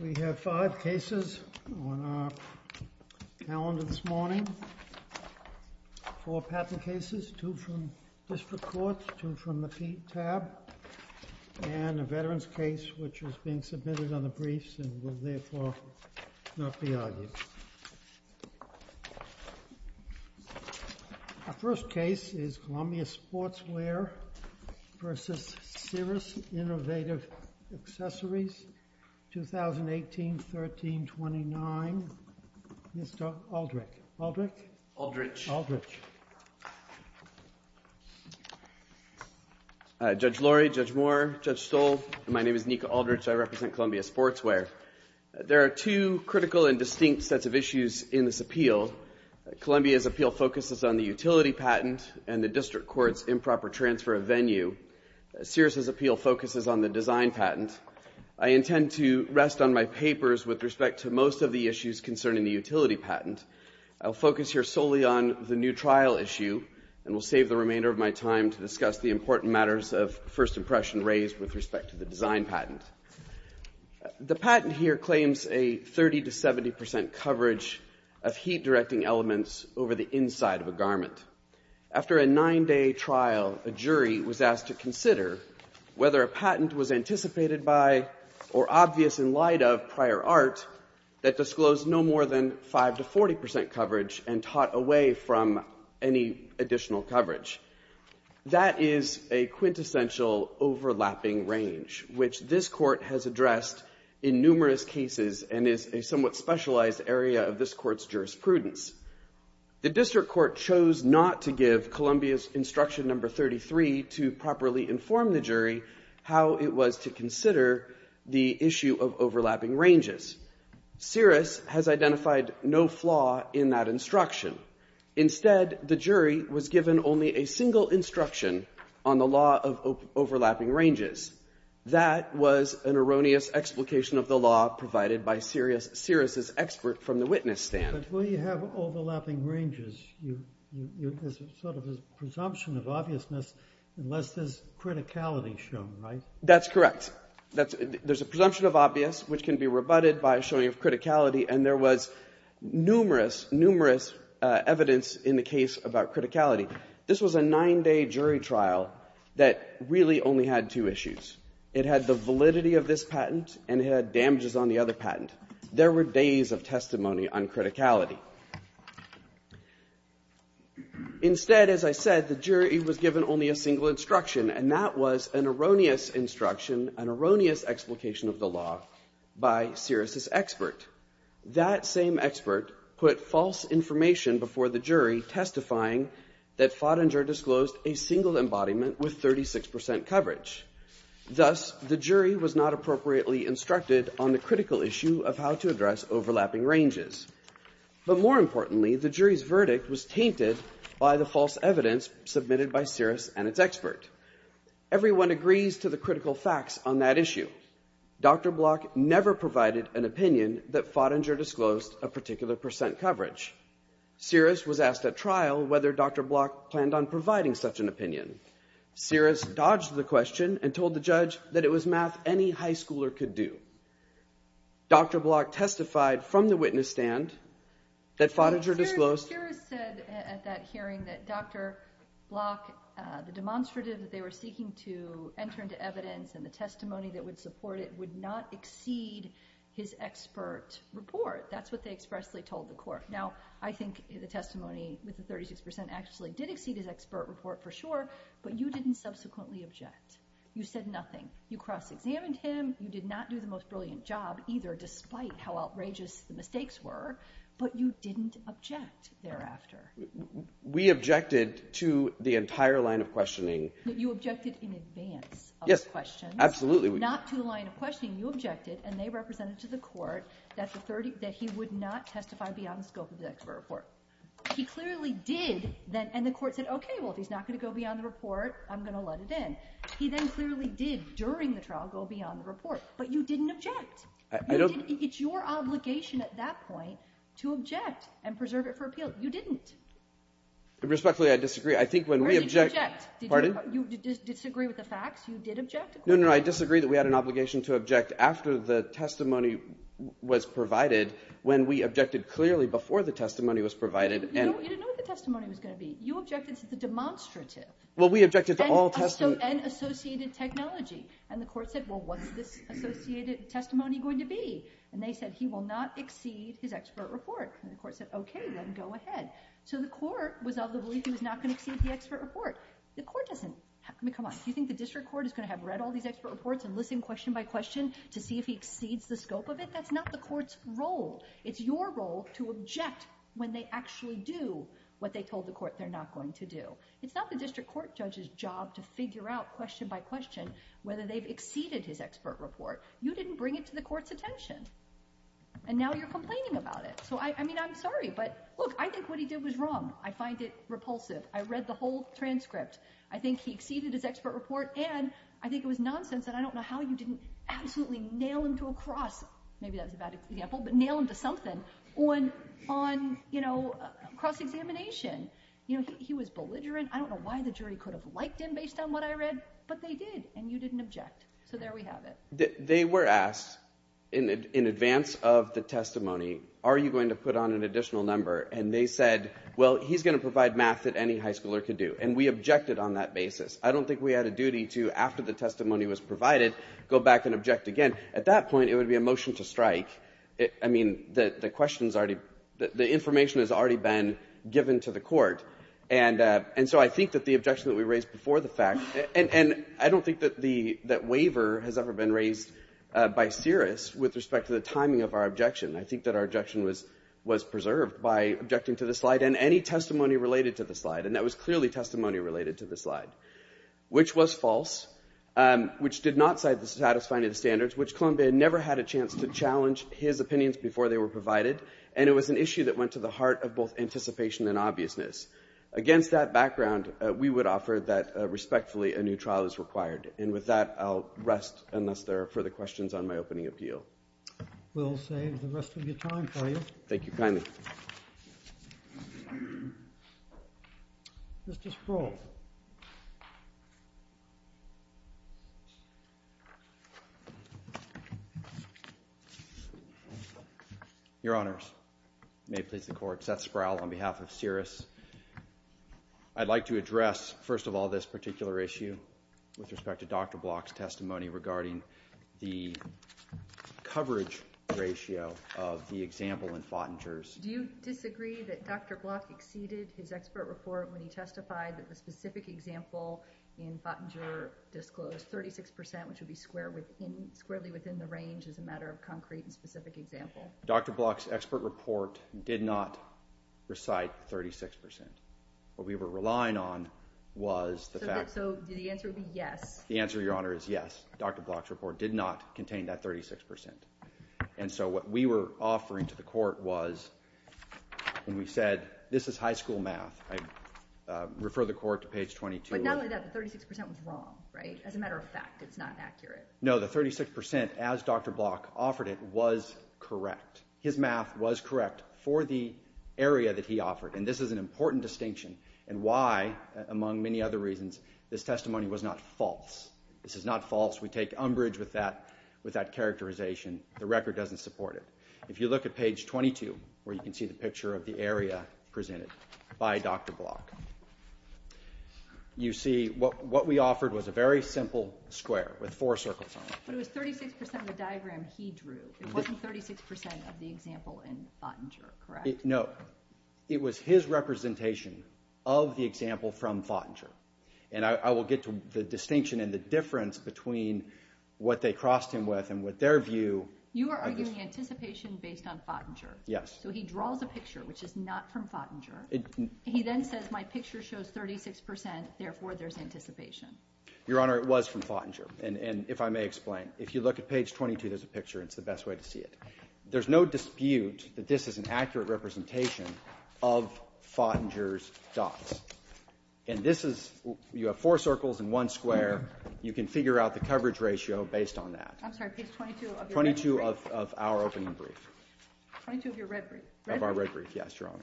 We have five cases on our calendar this morning, four patent cases, two from District Court, two from the Pete tab, and a veteran's case which is being submitted on the briefs and will therefore not be argued. Our first case is Columbia Sportswear v. Seirus Innovative Accessories, 2018-13-29. Mr. Aldrich. Aldrich? Aldrich. Judge Lorry, Judge Moore, Judge Stoll, and my name is Nika Aldrich. I represent Columbia Sportswear. There are two critical and distinct sets of issues in this appeal. Columbia's appeal focuses on the utility patent and the District Court's improper transfer of venue. Seirus' appeal focuses on the design patent. I intend to rest on my papers with respect to most of the issues concerning the utility patent. I'll focus here solely on the new trial issue and will save the remainder of my time to discuss the important matters of first impression raised with respect to the design patent. The patent here claims a 30-70% coverage of heat directing elements over the inside of a garment. After a nine-day trial, a jury was asked to consider whether a patent was anticipated by or obvious in light of prior art that disclosed no more than 5-40% coverage and taught away from any additional coverage. That is a quintessential overlapping range, which this Court has addressed in numerous cases and is a somewhat specialized area of this Court's jurisprudence. The District Court chose not to give Columbia's Instruction No. 33 to properly inform the jury how it was to consider the issue of overlapping ranges. Seirus has identified no flaw in that instruction. Instead, the jury was given only a single instruction on the law of overlapping ranges. That was an erroneous explication of the law provided by Seirus's expert from the witness stand. But when you have overlapping ranges, there's sort of a presumption of obviousness unless there's criticality shown, right? That's correct. There's a presumption of obvious, which can be rebutted by a showing of criticality, and there was numerous, numerous evidence in the case about criticality. This was a nine-day jury trial that really only had two issues. It had the validity of this patent and it had damages on the other patent. There were days of testimony on criticality. Instead, as I said, the jury was given only a single instruction, and that was an erroneous instruction, an erroneous explication of the law by Seirus's expert. That same expert put false information before the jury testifying that Fottinger disclosed a single embodiment with 36% coverage. Thus, the jury was not appropriately instructed on the critical issue of how to address overlapping ranges. But more importantly, the jury's verdict was tainted by the false evidence submitted by Seirus. Seirus said at that hearing that Dr. Block, the demonstrative that they were seeking to enter into evidence and the testimony that would support it, would not exceed his expert report. That's what they expressly told the court. Now, I think the testimony with the 36% actually did exceed his expert report for sure, but you didn't subsequently object. You said nothing. You cross-examined him. You did not do the most brilliant job either, despite how outrageous the mistakes were, but you didn't object thereafter. We objected to the entire line of questioning. You objected in advance of the questions, not to the line of questioning. You objected, and they represented to the court that he would not testify beyond the scope of the expert report. He clearly did, and the court said, okay, well, if he's not going to go beyond the report, I'm going to let it in. He then clearly did, during the trial, go beyond the report, but you didn't object. It's your obligation at that point to object and preserve it for appeal. You didn't. Respectfully, I disagree. I think when we objected. Pardon? You disagree with the facts? You did object? No, no, I disagree that we had an obligation to object after the testimony was provided, when we objected clearly before the testimony was provided. You didn't know what the testimony was going to be. You objected to the demonstrative. Well, we objected to all testimony. And associated technology, and the court said, well, what's this associated testimony going to be? And they said, he will not exceed his expert report. And the court said, okay, then go ahead. So the court was of the belief he was not going to exceed the expert report. The court doesn't. I mean, come on. Do you think the district court is going to have read all these expert reports and listened question by question to see if he exceeds the scope of it? That's not the court's role. It's your role to object when they actually do what they told the court they're not going to do. It's not the district court judge's job to figure out question by question whether they've exceeded his attention. And now you're complaining about it. So I mean, I'm sorry, but look, I think what he did was wrong. I find it repulsive. I read the whole transcript. I think he exceeded his expert report. And I think it was nonsense. And I don't know how you didn't absolutely nail him to a cross. Maybe that was a bad example, but nail him to something on cross examination. He was belligerent. I don't know why the jury could have liked him based on what I read, but they did. And you didn't object. So there we have it. They were asked in advance of the testimony, are you going to put on an additional number? And they said, well, he's going to provide math that any high schooler could do. And we objected on that basis. I don't think we had a duty to, after the testimony was provided, go back and object again. At that point, it would be a motion to strike. I mean, the question's already, the information has already been given to the court. And so I think that the objection that we raised before the that waiver has ever been raised by Cirrus with respect to the timing of our objection, I think that our objection was preserved by objecting to the slide and any testimony related to the slide. And that was clearly testimony related to the slide, which was false, which did not satisfy the standards, which Columbia never had a chance to challenge his opinions before they were provided. And it was an issue that went to the heart of both anticipation and obviousness. Against that background, we would offer that I'll rest unless there are further questions on my opening appeal. We'll save the rest of your time for you. Thank you kindly. Mr. Sproul. Your Honors. May it please the Court. Seth Sproul on behalf of Cirrus. I'd like to regarding the coverage ratio of the example in Fottinger's. Do you disagree that Dr. Block exceeded his expert report when he testified that the specific example in Fottinger disclosed 36 percent, which would be square within, squarely within the range as a matter of concrete and specific example? Dr. Block's expert report did not recite 36 percent. What we were relying on was the fact. So the answer would be yes. The answer, Your Honor, is yes. Dr. Block's report did not contain that 36 percent. And so what we were offering to the Court was when we said, this is high school math, I refer the Court to page 22. But not only that, the 36 percent was wrong, right? As a matter of fact, it's not accurate. No, the 36 percent as Dr. Block offered it was correct. His math was correct for the area that he offered. And this is an important distinction and why, among many other reasons, this testimony was not false. This is not false. We take umbrage with that characterization. The record doesn't support it. If you look at page 22, where you can see the picture of the area presented by Dr. Block, you see what we offered was a very simple square with four circles on it. But it was 36 percent of the diagram he drew. It wasn't 36 percent of the example in Fottinger, correct? No. It was his representation of the example from Fottinger. And I will get to the distinction and the difference between what they crossed him with and what their view. You are arguing anticipation based on Fottinger? Yes. So he draws a picture, which is not from Fottinger. He then says, my picture shows 36 percent. Therefore, there's anticipation. Your Honor, it was from Fottinger. And if I may explain, if you look at page 22, there's a picture. It's the best way to see it. There's no dispute that this is an accurate representation of Fottinger's dots. And this is, you have four circles and one square. You can figure out the coverage ratio based on that. I'm sorry, page 22 of your red brief? 22 of our opening brief. 22 of your red brief? Of our red brief, yes, Your Honor.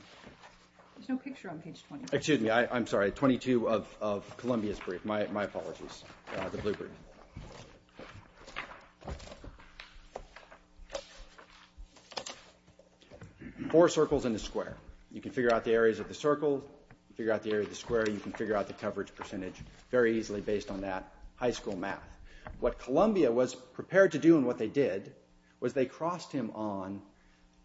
There's no picture on page 22. Excuse me. I'm sorry. 22 of Columbia's brief. My apologies. The blue brief. Four circles and a square. You can figure out the areas of the circle, figure out the area of the square. You can figure out the coverage percentage very easily based on that high school math. What Columbia was prepared to do and what they did was they crossed him on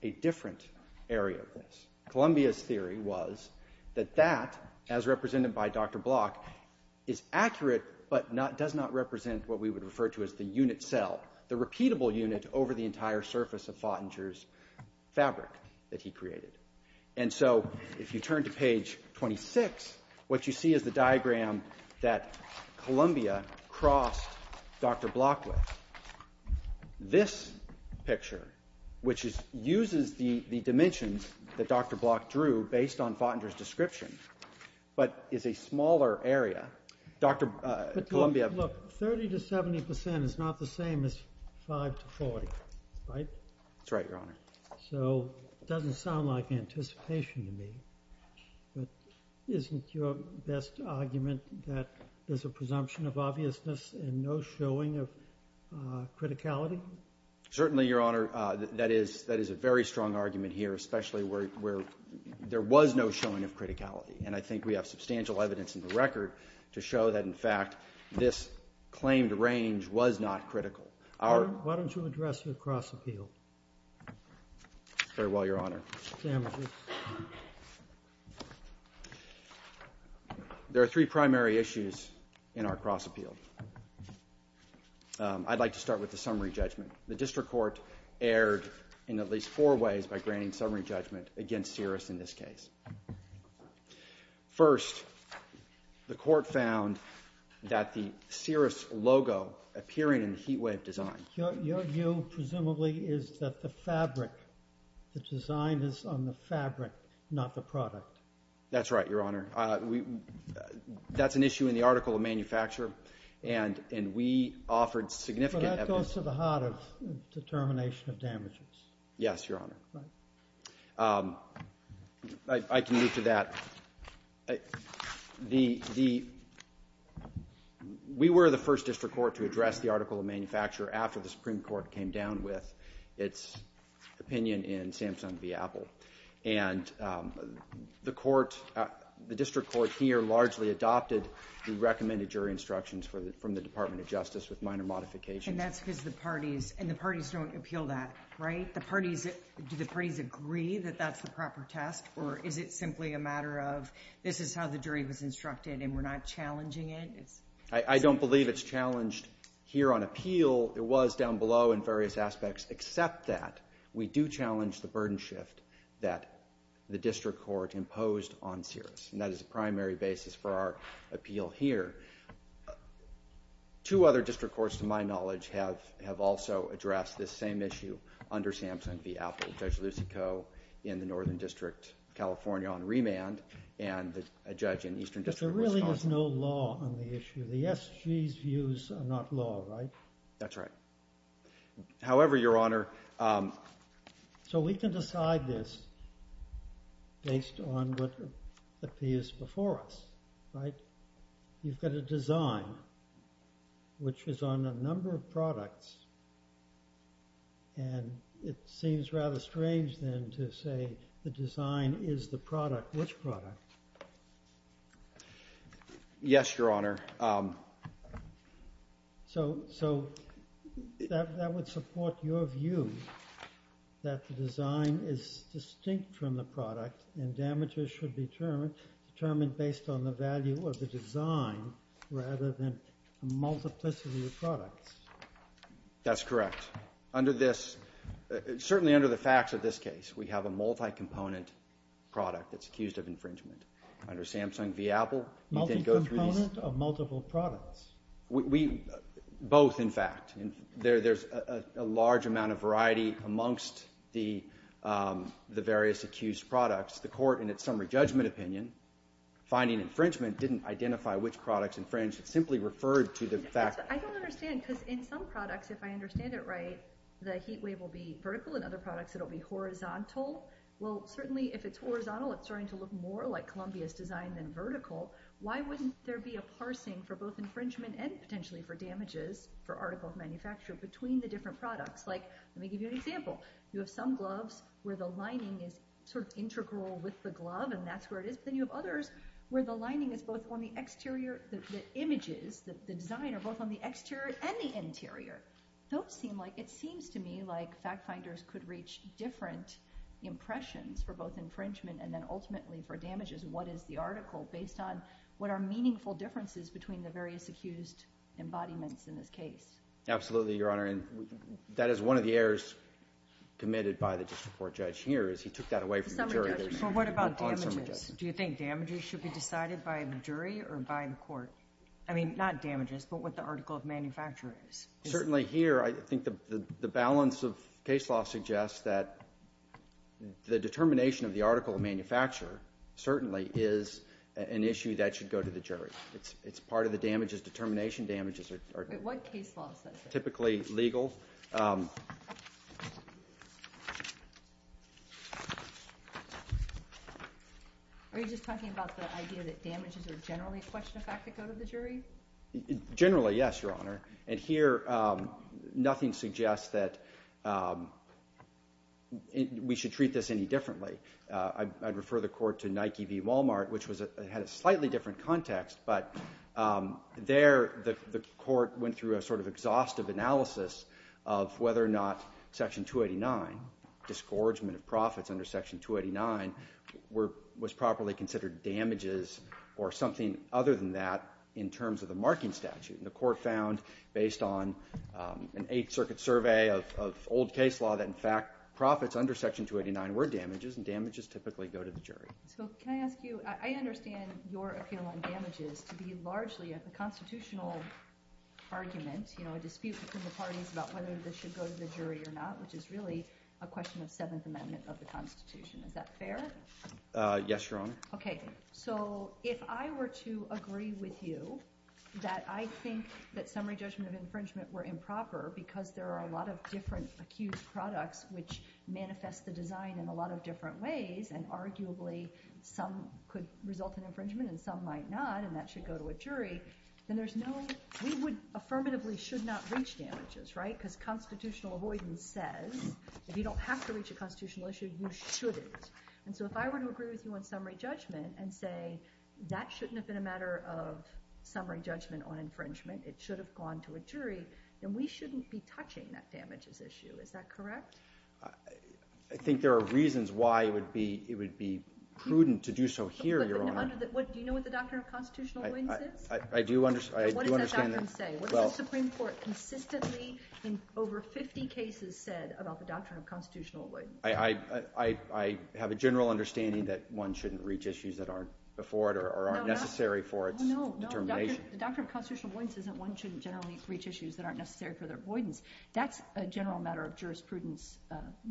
a different area of this. Columbia's theory was that that, as represented by Dr. Block, is accurate but does not represent what we would refer to as the unit cell, the repeatable unit over the entire surface of Fottinger's fabric that he created. And so, if you turn to page 26, what you see is the diagram that Columbia crossed Dr. Block with. This picture, which uses the dimensions that Dr. Block drew based on Fottinger's description but is a smaller area. Dr. Columbia. Look, 30 to 70 percent is not the same as 5 to 40, right? That's right, Your Honor. So, it doesn't sound like anticipation to me. But isn't your best argument that there's a presumption of obviousness and no showing of criticality? Certainly, Your Honor. That is a very strong argument here, especially where there was no showing of criticality. And I think we have substantial evidence in the record to show that, in fact, this claimed range was not critical. Why don't you address the cross appeal? Farewell, Your Honor. There are three primary issues in our cross appeal. I'd like to start with the summary judgment. The district court erred in at least four ways by granting summary judgment against Searis in this case. First, the court found that the Searis logo appearing in the heat wave design. Your view, presumably, is that the fabric, the design is on the fabric, not the product. That's right, Your Honor. That's an issue in the article of manufacture, and we offered significant evidence. But that goes to the heart of determination of damages. Yes, Your Honor. But I can move to that. We were the first district court to address the article of manufacture after the Supreme Court came down with its opinion in Samson v. Apple. And the court, the district court here largely adopted the recommended jury instructions from the Department of Justice with minor modifications. And that's because the parties, and the parties don't appeal that, right? Do the parties agree that that's the proper test, or is it simply a matter of this is how the jury was instructed and we're not challenging it? I don't believe it's challenged here on appeal. It was down below in various aspects. Except that we do challenge the burden shift that the district court imposed on Searis. And that is the primary basis for our appeal here. Two other district courts, to my knowledge, have also addressed this same issue under Samson v. Apple. Judge Lucico in the Northern District of California on remand, and a judge in Eastern District of Wisconsin. But there really is no law on the issue. The SG's views are not law, right? That's right. However, Your Honor. So we can decide this based on what appears before us, right? You've got a design which is on a number of products. And it seems rather strange, then, to say the design is the product. Which product? Yes, Your Honor. So that would support your view that the design is distinct from the product. And damages should be determined based on the value of the design, rather than the multiplicity of products. That's correct. Under this, certainly under the facts of this case, we have a multi-component product that's accused of infringement. Under Samson v. Apple, you can go through these- Multi-component or multiple products? Both, in fact. There's a large amount of variety amongst the various accused products. The court, in its summary judgment opinion, finding infringement didn't identify which products infringed. It simply referred to the fact- I don't understand. Because in some products, if I understand it right, the heat wave will be vertical. In other products, it'll be horizontal. Well, certainly, if it's horizontal, it's starting to look more like Columbia's design than vertical. Why wouldn't there be a parsing for both infringement and, potentially, for damages, for article of manufacture, between the different products? Like, let me give you an example. You have some gloves where the lining is sort of integral with the glove, and that's where it is. But then you have others where the lining is both on the exterior- the images, the design, are both on the exterior and the interior. Those seem like- It seems to me like fact-finders could reach different impressions for both infringement and then, ultimately, for damages. What is the article based on? What are meaningful differences between the various accused embodiments in this case? Absolutely, Your Honor. And that is one of the errors committed by the district court judge here, is he took that away from the jury. But what about damages? Do you think damages should be decided by a jury or by the court? I mean, not damages, but what the article of manufacture is. Certainly, here, I think the balance of case law suggests that the determination of the article of manufacture, certainly, is an issue that should go to the jury. It's part of the damages. Determination damages are- What case law says that? Typically legal. Are you just talking about the idea that damages are generally a question of fact that go to the jury? Generally, yes, Your Honor. And here, nothing suggests that we should treat this any differently. I'd refer the court to Nike v. Walmart, which had a slightly different context. But there, the court went through a sort of exhaustive analysis of whether or not Section 289, discouragement of profits under Section 289, was properly considered damages or something other than that in terms of the marking statute. And the court found, based on an Eighth Circuit survey of old case law, that, in fact, profits under Section 289 were damages, and damages typically go to the jury. So, can I ask you, I understand your appeal on damages to be largely a constitutional argument, you know, a dispute between the parties about whether this should go to the jury or not, which is really a question of Seventh Amendment of the Constitution. Is that fair? Yes, Your Honor. Okay, so if I were to agree with you that I think that summary judgment of infringement were improper because there are a lot of different accused products which manifest the design in a lot of different ways, and arguably some could result in infringement and some might not, and that should go to a jury, then there's no, we would affirmatively should not reach damages, right? Because constitutional avoidance says if you don't have to reach a constitutional issue, you shouldn't. And so if I were to agree with you on summary judgment and say, that shouldn't have been a matter of summary judgment on infringement, it should have gone to a jury, then we shouldn't be touching that damages issue. Is that correct? I think there are reasons why it would be prudent to do so here, Your Honor. Do you know what the Doctrine of Constitutional Avoidance says? I do understand. What does that doctrine say? What does the Supreme Court consistently, in over 50 cases, said about the Doctrine of Constitutional Avoidance? I have a general understanding that one shouldn't reach issues that aren't before it or aren't necessary for its determination. The Doctrine of Constitutional Avoidance one shouldn't generally reach issues that aren't necessary for their avoidance. That's a general matter of jurisprudence,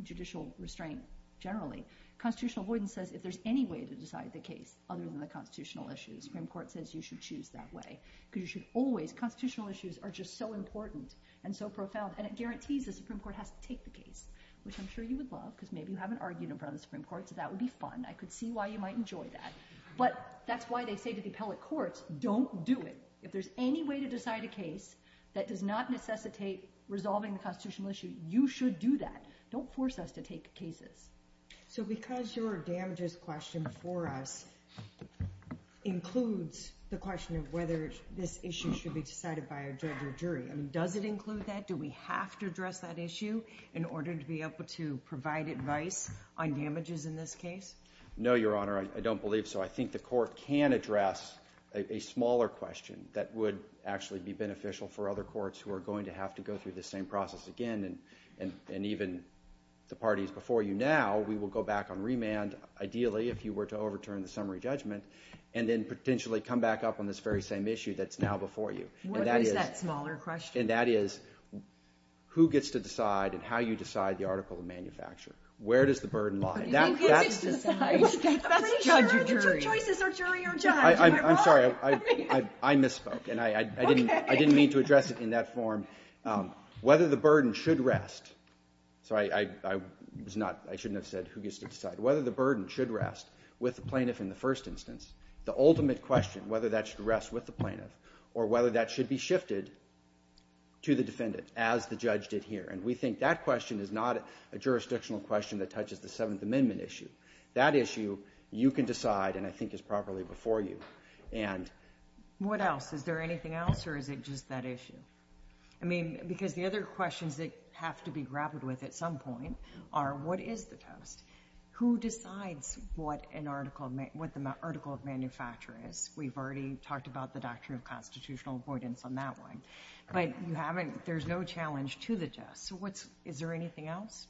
judicial restraint, generally. Constitutional avoidance says if there's any way to decide the case other than the constitutional issues, Supreme Court says you should choose that way. Because you should always, constitutional issues are just so important and so profound. And it guarantees the Supreme Court has to take the case, which I'm sure you would love, because maybe you haven't argued in front of the Supreme Court. So that would be fun. I could see why you might enjoy that. But that's why they say to the appellate courts, don't do it. If there's any way to decide a case that does not necessitate resolving the constitutional issue, you should do that. Don't force us to take cases. So because your damages question for us includes the question of whether this issue should be decided by a judge or jury, I mean, does it include that? Do we have to address that issue in order to be able to provide advice on damages in this case? No, Your Honor, I don't believe so. I think the court can address a smaller question that would actually be beneficial for other courts who are going to have to go through the same process again. And even the parties before you now, we will go back on remand, ideally, if you were to overturn the summary judgment, and then potentially come back up on this very same issue that's now before you. What is that smaller question? And that is, who gets to decide and how you decide the article of manufacture? Where does the burden lie? I'm sorry, I misspoke, and I didn't mean to address it in that form. Whether the burden should rest, sorry, I shouldn't have said who gets to decide. Whether the burden should rest with the plaintiff in the first instance, the ultimate question, whether that should rest with the plaintiff or whether that should be shifted to the defendant, as the judge did here. And we think that question is not a jurisdictional question that touches the Seventh Amendment issue. That issue, you can decide, and I think is properly before you. And what else? Is there anything else, or is it just that issue? I mean, because the other questions that have to be grappled with at some point are, what is the test? Who decides what the article of manufacture is? We've already talked about the doctrine of constitutional avoidance on that one. But you haven't, there's no challenge to the test. So what's, is there anything else?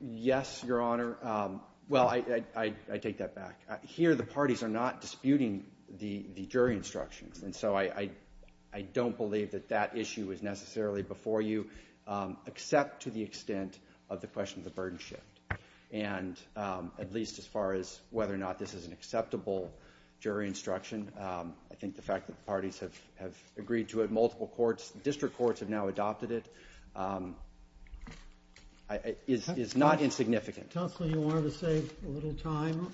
Yes, Your Honor. Well, I take that back. Here, the parties are not disputing the jury instructions. And so I don't believe that that issue is necessarily before you, except to the extent of the question of the burden shift. And at least as far as whether or not this is an acceptable jury instruction, I think the fact that the parties have agreed to it, multiple courts, district courts have now adopted it. It is not insignificant. Counsel, you wanted to save a little time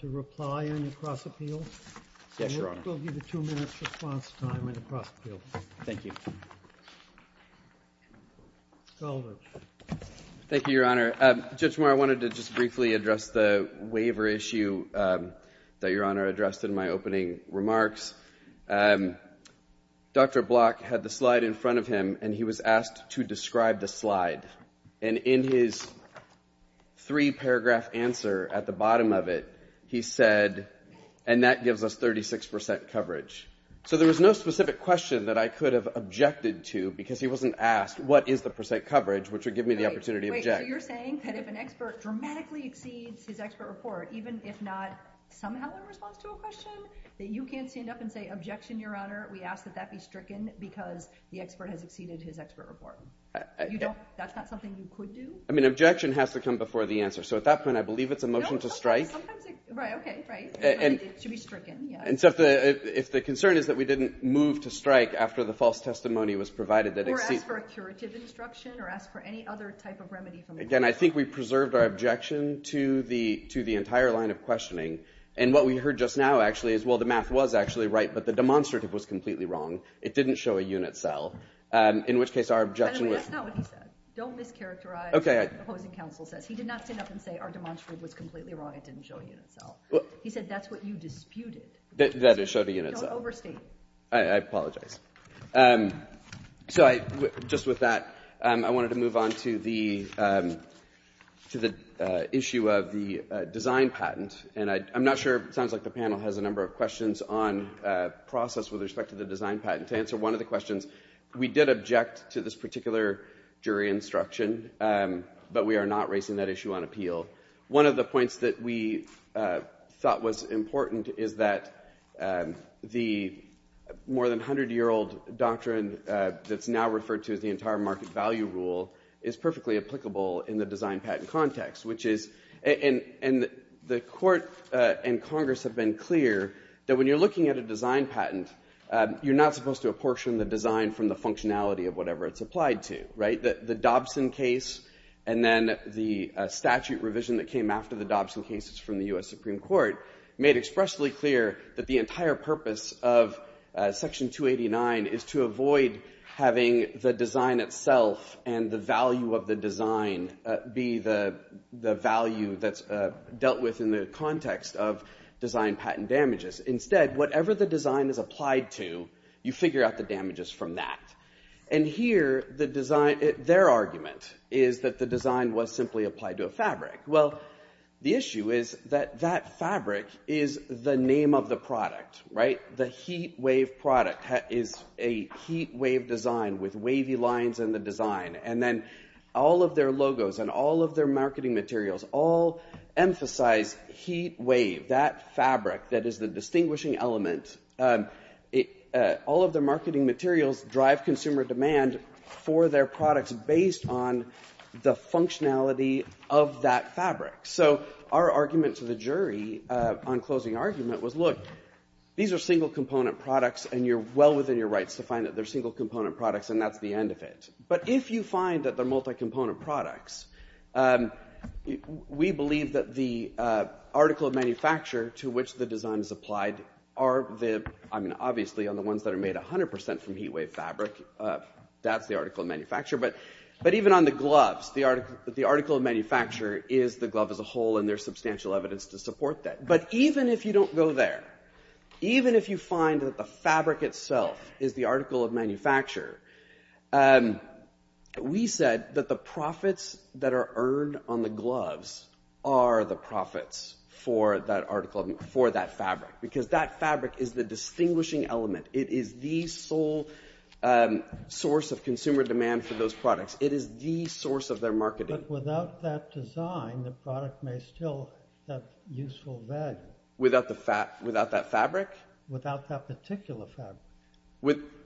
to reply on your cross-appeal. Yes, Your Honor. We'll give you two minutes response time on your cross-appeal. Thank you. Goldberg. Thank you, Your Honor. Judge Meyer, I wanted to just briefly address the waiver issue that Your Honor addressed in my opening remarks. And Dr. Block had the slide in front of him, and he was asked to describe the slide. And in his three-paragraph answer at the bottom of it, he said, and that gives us 36% coverage. So there was no specific question that I could have objected to, because he wasn't asked, what is the percent coverage, which would give me the opportunity to object. You're saying that if an expert dramatically exceeds his expert report, even if not somehow in response to a question, that you can't stand up and say, objection, Your Honor. We ask that that be stricken, because the expert has exceeded his expert report. That's not something you could do? I mean, objection has to come before the answer. So at that point, I believe it's a motion to strike. Sometimes, right, okay, right. I think it should be stricken, yeah. And so if the concern is that we didn't move to strike after the false testimony was provided that exceeds... Or ask for a curative instruction, or ask for any other type of remedy from... Again, I think we preserved our objection to the entire line of questioning. And what we heard just now, actually, is, well, the math was actually right, but the demonstrative was completely wrong. It didn't show a unit cell. In which case, our objection was... Anyway, that's not what he said. Don't mischaracterize what the opposing counsel says. He did not stand up and say, our demonstrative was completely wrong. It didn't show a unit cell. He said, that's what you disputed. That it showed a unit cell. Don't overstate. I apologize. So just with that, I wanted to move on to the issue of the design patent. And I'm not sure... Sounds like the panel has a number of questions on process with respect to the design patent. To answer one of the questions, we did object to this particular jury instruction, but we are not raising that issue on appeal. One of the points that we thought was important is that the more than 100-year-old doctrine that's now referred to as the entire market value rule is perfectly applicable in the design patent context, which is... And the court and Congress have been clear that when you're looking at a design patent, you're not supposed to apportion the design from the functionality of whatever it's applied to, right? The Dobson case and then the statute revision that came after the Dobson cases from the U.S. Supreme Court made expressly clear that the entire purpose of Section 289 is to avoid having the design itself and the value of the design be the value that's dealt with in the context of design patent damages. Instead, whatever the design is applied to, you figure out the damages from that. And here, their argument is that the design was simply applied to a fabric. Well, the issue is that that fabric is the name of the product, right? The heat wave product is a heat wave design with wavy lines in the design. And then all of their logos and all of their marketing materials all emphasize heat wave, that fabric that is the distinguishing element. All of their marketing materials drive consumer demand for their products based on the functionality of that fabric. So our argument to the jury on closing argument was, look, these are single component products, and you're well within your rights to find that they're single component products, and that's the end of it. But if you find that they're multi-component products, we believe that the article of manufacture to which the design is applied are the... I mean, obviously, on the ones that are made 100% from heat wave fabric, that's the article of manufacture. But even on the gloves, the article of manufacture is the glove as a whole, and there's substantial evidence to support that. But even if you don't go there, even if you find that the fabric itself is the article of manufacture, we said that the profits that are earned on the gloves are the profits for that article, for that fabric, because that fabric is the distinguishing element. It is the sole source of consumer demand for those products. It is the source of their marketing. But without that design, the product may still have useful value. Without that fabric? Without that particular fabric.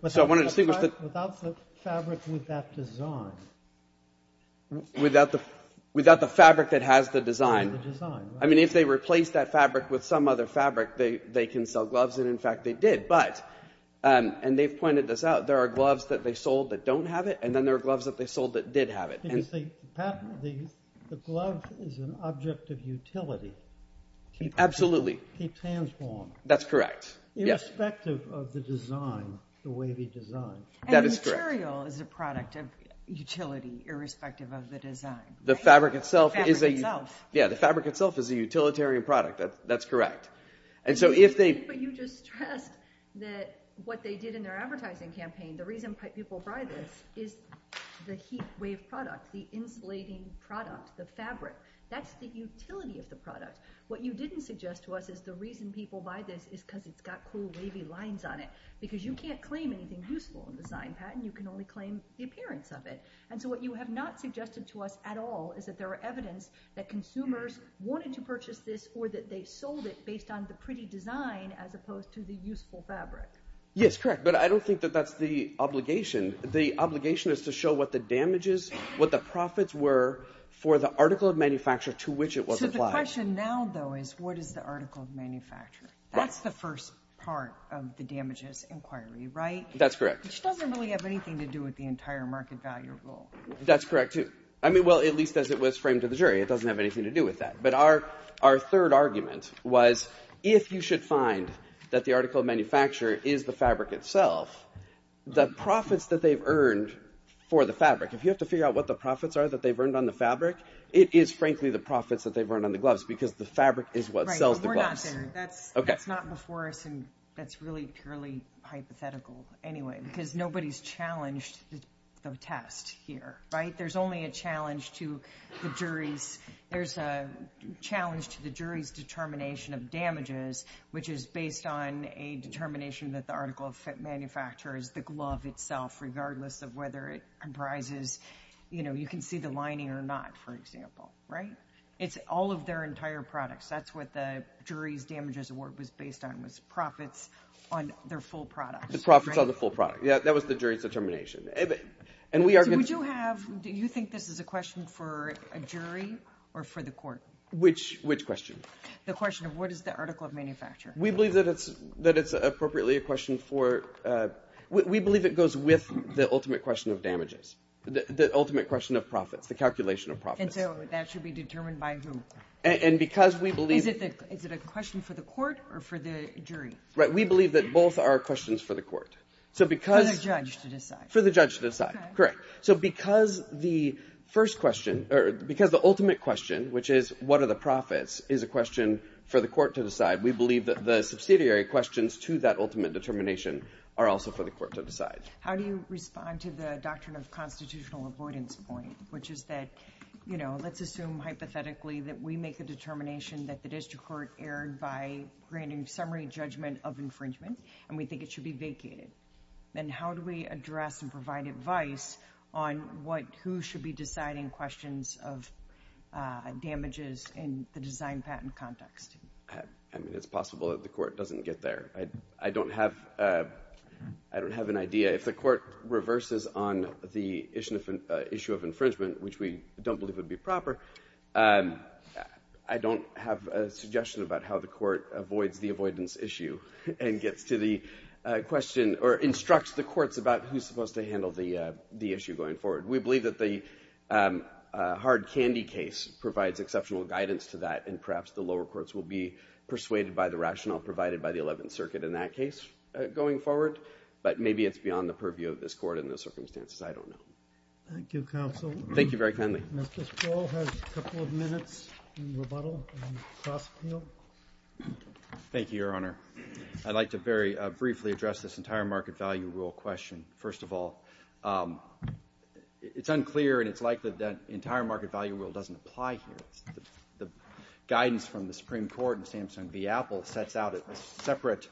So I want to distinguish the... Without the fabric with that design. Without the fabric that has the design. I mean, if they replace that fabric with some other fabric, they can sell gloves, and in fact, they did. But, and they've pointed this out, there are gloves that they sold that don't have it, and then there are gloves that they sold that did have it. Because the glove is an object of utility. Absolutely. Keeps hands warm. That's correct. Irrespective of the design, the wavy design. And the material is a product of utility, irrespective of the design. The fabric itself is a... The fabric itself. Yeah, the fabric itself is a utilitarian product, that's correct. And so if they... But you just stressed that what they did in their advertising campaign, the reason people buy this is the heat wave product, the insulating product, the fabric. That's the utility of the product. What you didn't suggest to us is the reason people buy this is because it's got cool wavy lines on it. Because you can't claim anything useful in the design patent, you can only claim the appearance of it. And so what you have not suggested to us at all is that there are evidence that consumers wanted to purchase this or that they sold it based on the pretty design as opposed to the useful fabric. Yes, correct. But I don't think that that's the obligation. The obligation is to show what the damages, what the profits were for the article of manufacture to which it was applied. So the question now, though, is what is the article of manufacture? That's the first part of the damages inquiry, right? That's correct. Which doesn't really have anything to do with the entire market value rule. That's correct, too. I mean, well, at least as it was framed to the jury, it doesn't have anything to do with that. But our third argument was, if you should find that the article of manufacture is the fabric itself, the profits that they've earned for the fabric, if you have to figure out what the profits are that they've earned on the fabric, it is frankly the profits that they've earned on the gloves because the fabric is what sells the gloves. That's not before us. And that's really purely hypothetical anyway, because nobody's challenged the test here, right? There's only a challenge to the jury's. There's a challenge to the jury's determination of damages, which is based on a determination that the article of manufacture is the glove itself, regardless of whether it comprises, you know, you can see the lining or not, for example, right? It's all of their entire products. That's what the jury's damages award was based on, was profits on their full products. The profits on the full product. Yeah, that was the jury's determination. So would you have, do you think this is a question for a jury or for the court? Which question? The question of what is the article of manufacture? We believe that it's appropriately a question for, we believe it goes with the ultimate question of damages, the ultimate question of profits, the calculation of profits. And so that should be determined by who? And because we believe... Is it a question for the court or for the jury? Right, we believe that both are questions for the court. So because... For the judge to decide. For the judge to decide, correct. So because the first question, or because the ultimate question, which is what are the profits, is a question for the court to decide, we believe that the subsidiary questions to that ultimate determination are also for the court to decide. How do you respond to the doctrine of constitutional avoidance point, which is that, you know, let's assume hypothetically that we make a determination that the district court erred by granting summary judgment of infringement, and we think it should be vacated. Then how do we address and provide advice on what, who should be deciding questions of damages in the design patent context? I mean, it's possible that the court doesn't get there. I don't have, I don't have an idea. If the court reverses on the issue of infringement, which we don't believe would be proper, I don't have a suggestion about how the court avoids the avoidance issue and gets to the question or instructs the courts about who's supposed to handle the issue going forward. We believe that the Hard Candy case provides exceptional guidance to that, and perhaps the lower courts will be persuaded by the rationale provided by the 11th Circuit in that case going forward. But maybe it's beyond the purview of this court in those circumstances. I don't know. Thank you, counsel. Thank you very kindly. Justice Paul has a couple of minutes in rebuttal and cross-appeal. Thank you, Your Honor. I'd like to very briefly address this entire market value rule question. First of all, it's unclear and it's likely that the entire market value rule doesn't apply here. The guidance from the Supreme Court and Samsung v. Apple sets out a separate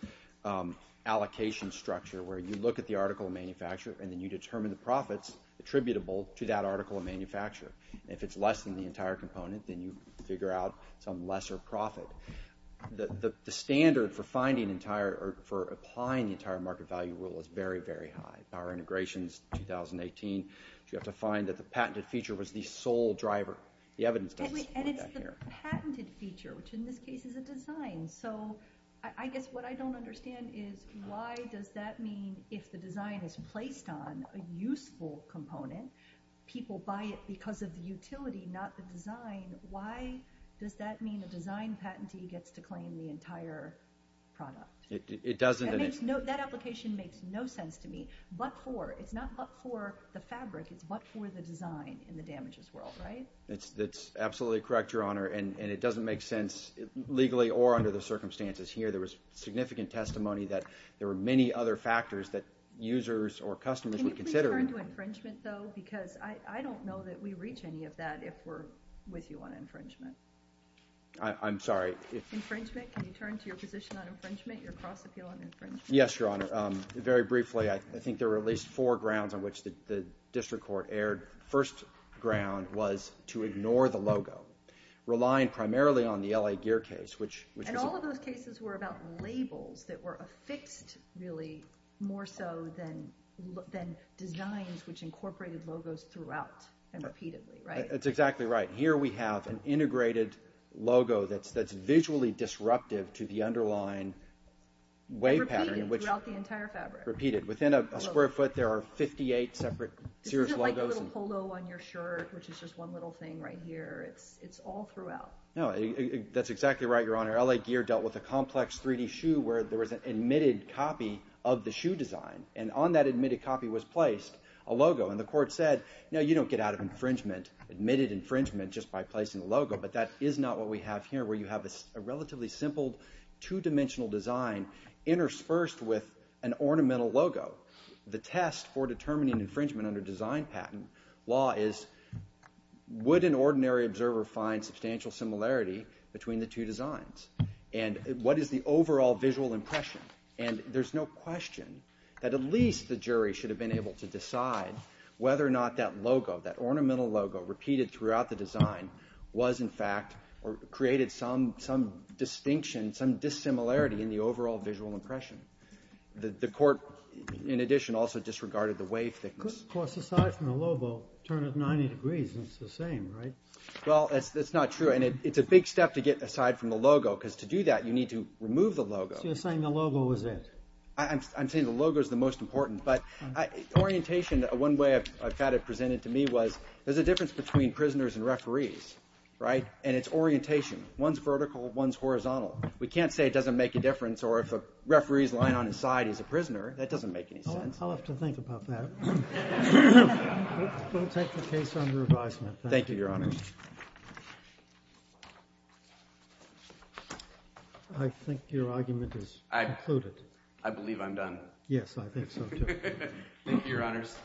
allocation structure where you look at the article of manufacture, and then you determine the profits attributable to that article of manufacture. If it's less than the entire component, then you figure out some lesser profit. The standard for applying the entire market value rule is very, very high. Our integrations, 2018, you have to find that the patented feature was the sole driver. The evidence doesn't support that here. And it's the patented feature, which in this case is a design. So I guess what I don't understand is why does that mean if the design is placed on a useful component, people buy it because of the utility, not the design, why does that mean a design patentee gets to claim the entire product? It doesn't. That application makes no sense to me, but for. It's not but for the fabric. It's but for the design in the damages world, right? That's absolutely correct, Your Honor. And it doesn't make sense legally or under the circumstances here. There was significant testimony that there were many other factors that users or customers would consider. Can you return to infringement, though? Because I don't know that we reach any of that if we're with you on infringement. I'm sorry. Infringement. Can you turn to your position on infringement, your cross appeal on infringement? Yes, Your Honor. Very briefly, I think there were at least four grounds on which the district court erred. First ground was to ignore the logo. Relying primarily on the L.A. Gear case. And all of those cases were about labels that were affixed really more so than designs which incorporated logos throughout and repeatedly, right? That's exactly right. Here we have an integrated logo that's visually disruptive to the underlying wave pattern. Repeated throughout the entire fabric. Repeated. Within a square foot, there are 58 separate serious logos. This isn't like a little polo on your shirt, which is just one little thing right here. It's all throughout. No, that's exactly right, Your Honor. L.A. Gear dealt with a complex 3D shoe where there was an admitted copy of the shoe design. And on that admitted copy was placed a logo. And the court said, no, you don't get out of infringement, admitted infringement, just by placing a logo. But that is not what we have here where you have a relatively simple two-dimensional design interspersed with an ornamental logo. The test for determining infringement under design patent law is, would an ordinary observer find substantial similarity between the two designs? And what is the overall visual impression? And there's no question that at least the jury should have been able to decide whether or not that logo, that ornamental logo, repeated throughout the design was, in fact, or created some distinction, some dissimilarity in the overall visual impression. The court, in addition, also disregarded the wave thickness. Of course, aside from the logo, turn it 90 degrees, and it's the same, right? Well, that's not true. And it's a big step to get aside from the logo because to do that, you need to remove the logo. So you're saying the logo is it? I'm saying the logo is the most important. But orientation, one way I've had it presented to me was, there's a difference between prisoners and referees, right? And it's orientation. One's vertical, one's horizontal. We can't say it doesn't make a difference or if a referee's lying on his side, he's a prisoner. That doesn't make any sense. I'll have to think about that. We'll take the case under advisement. Thank you, Your Honors. I think your argument is concluded. I believe I'm done. Yes, I think so, too. Thank you, Your Honors.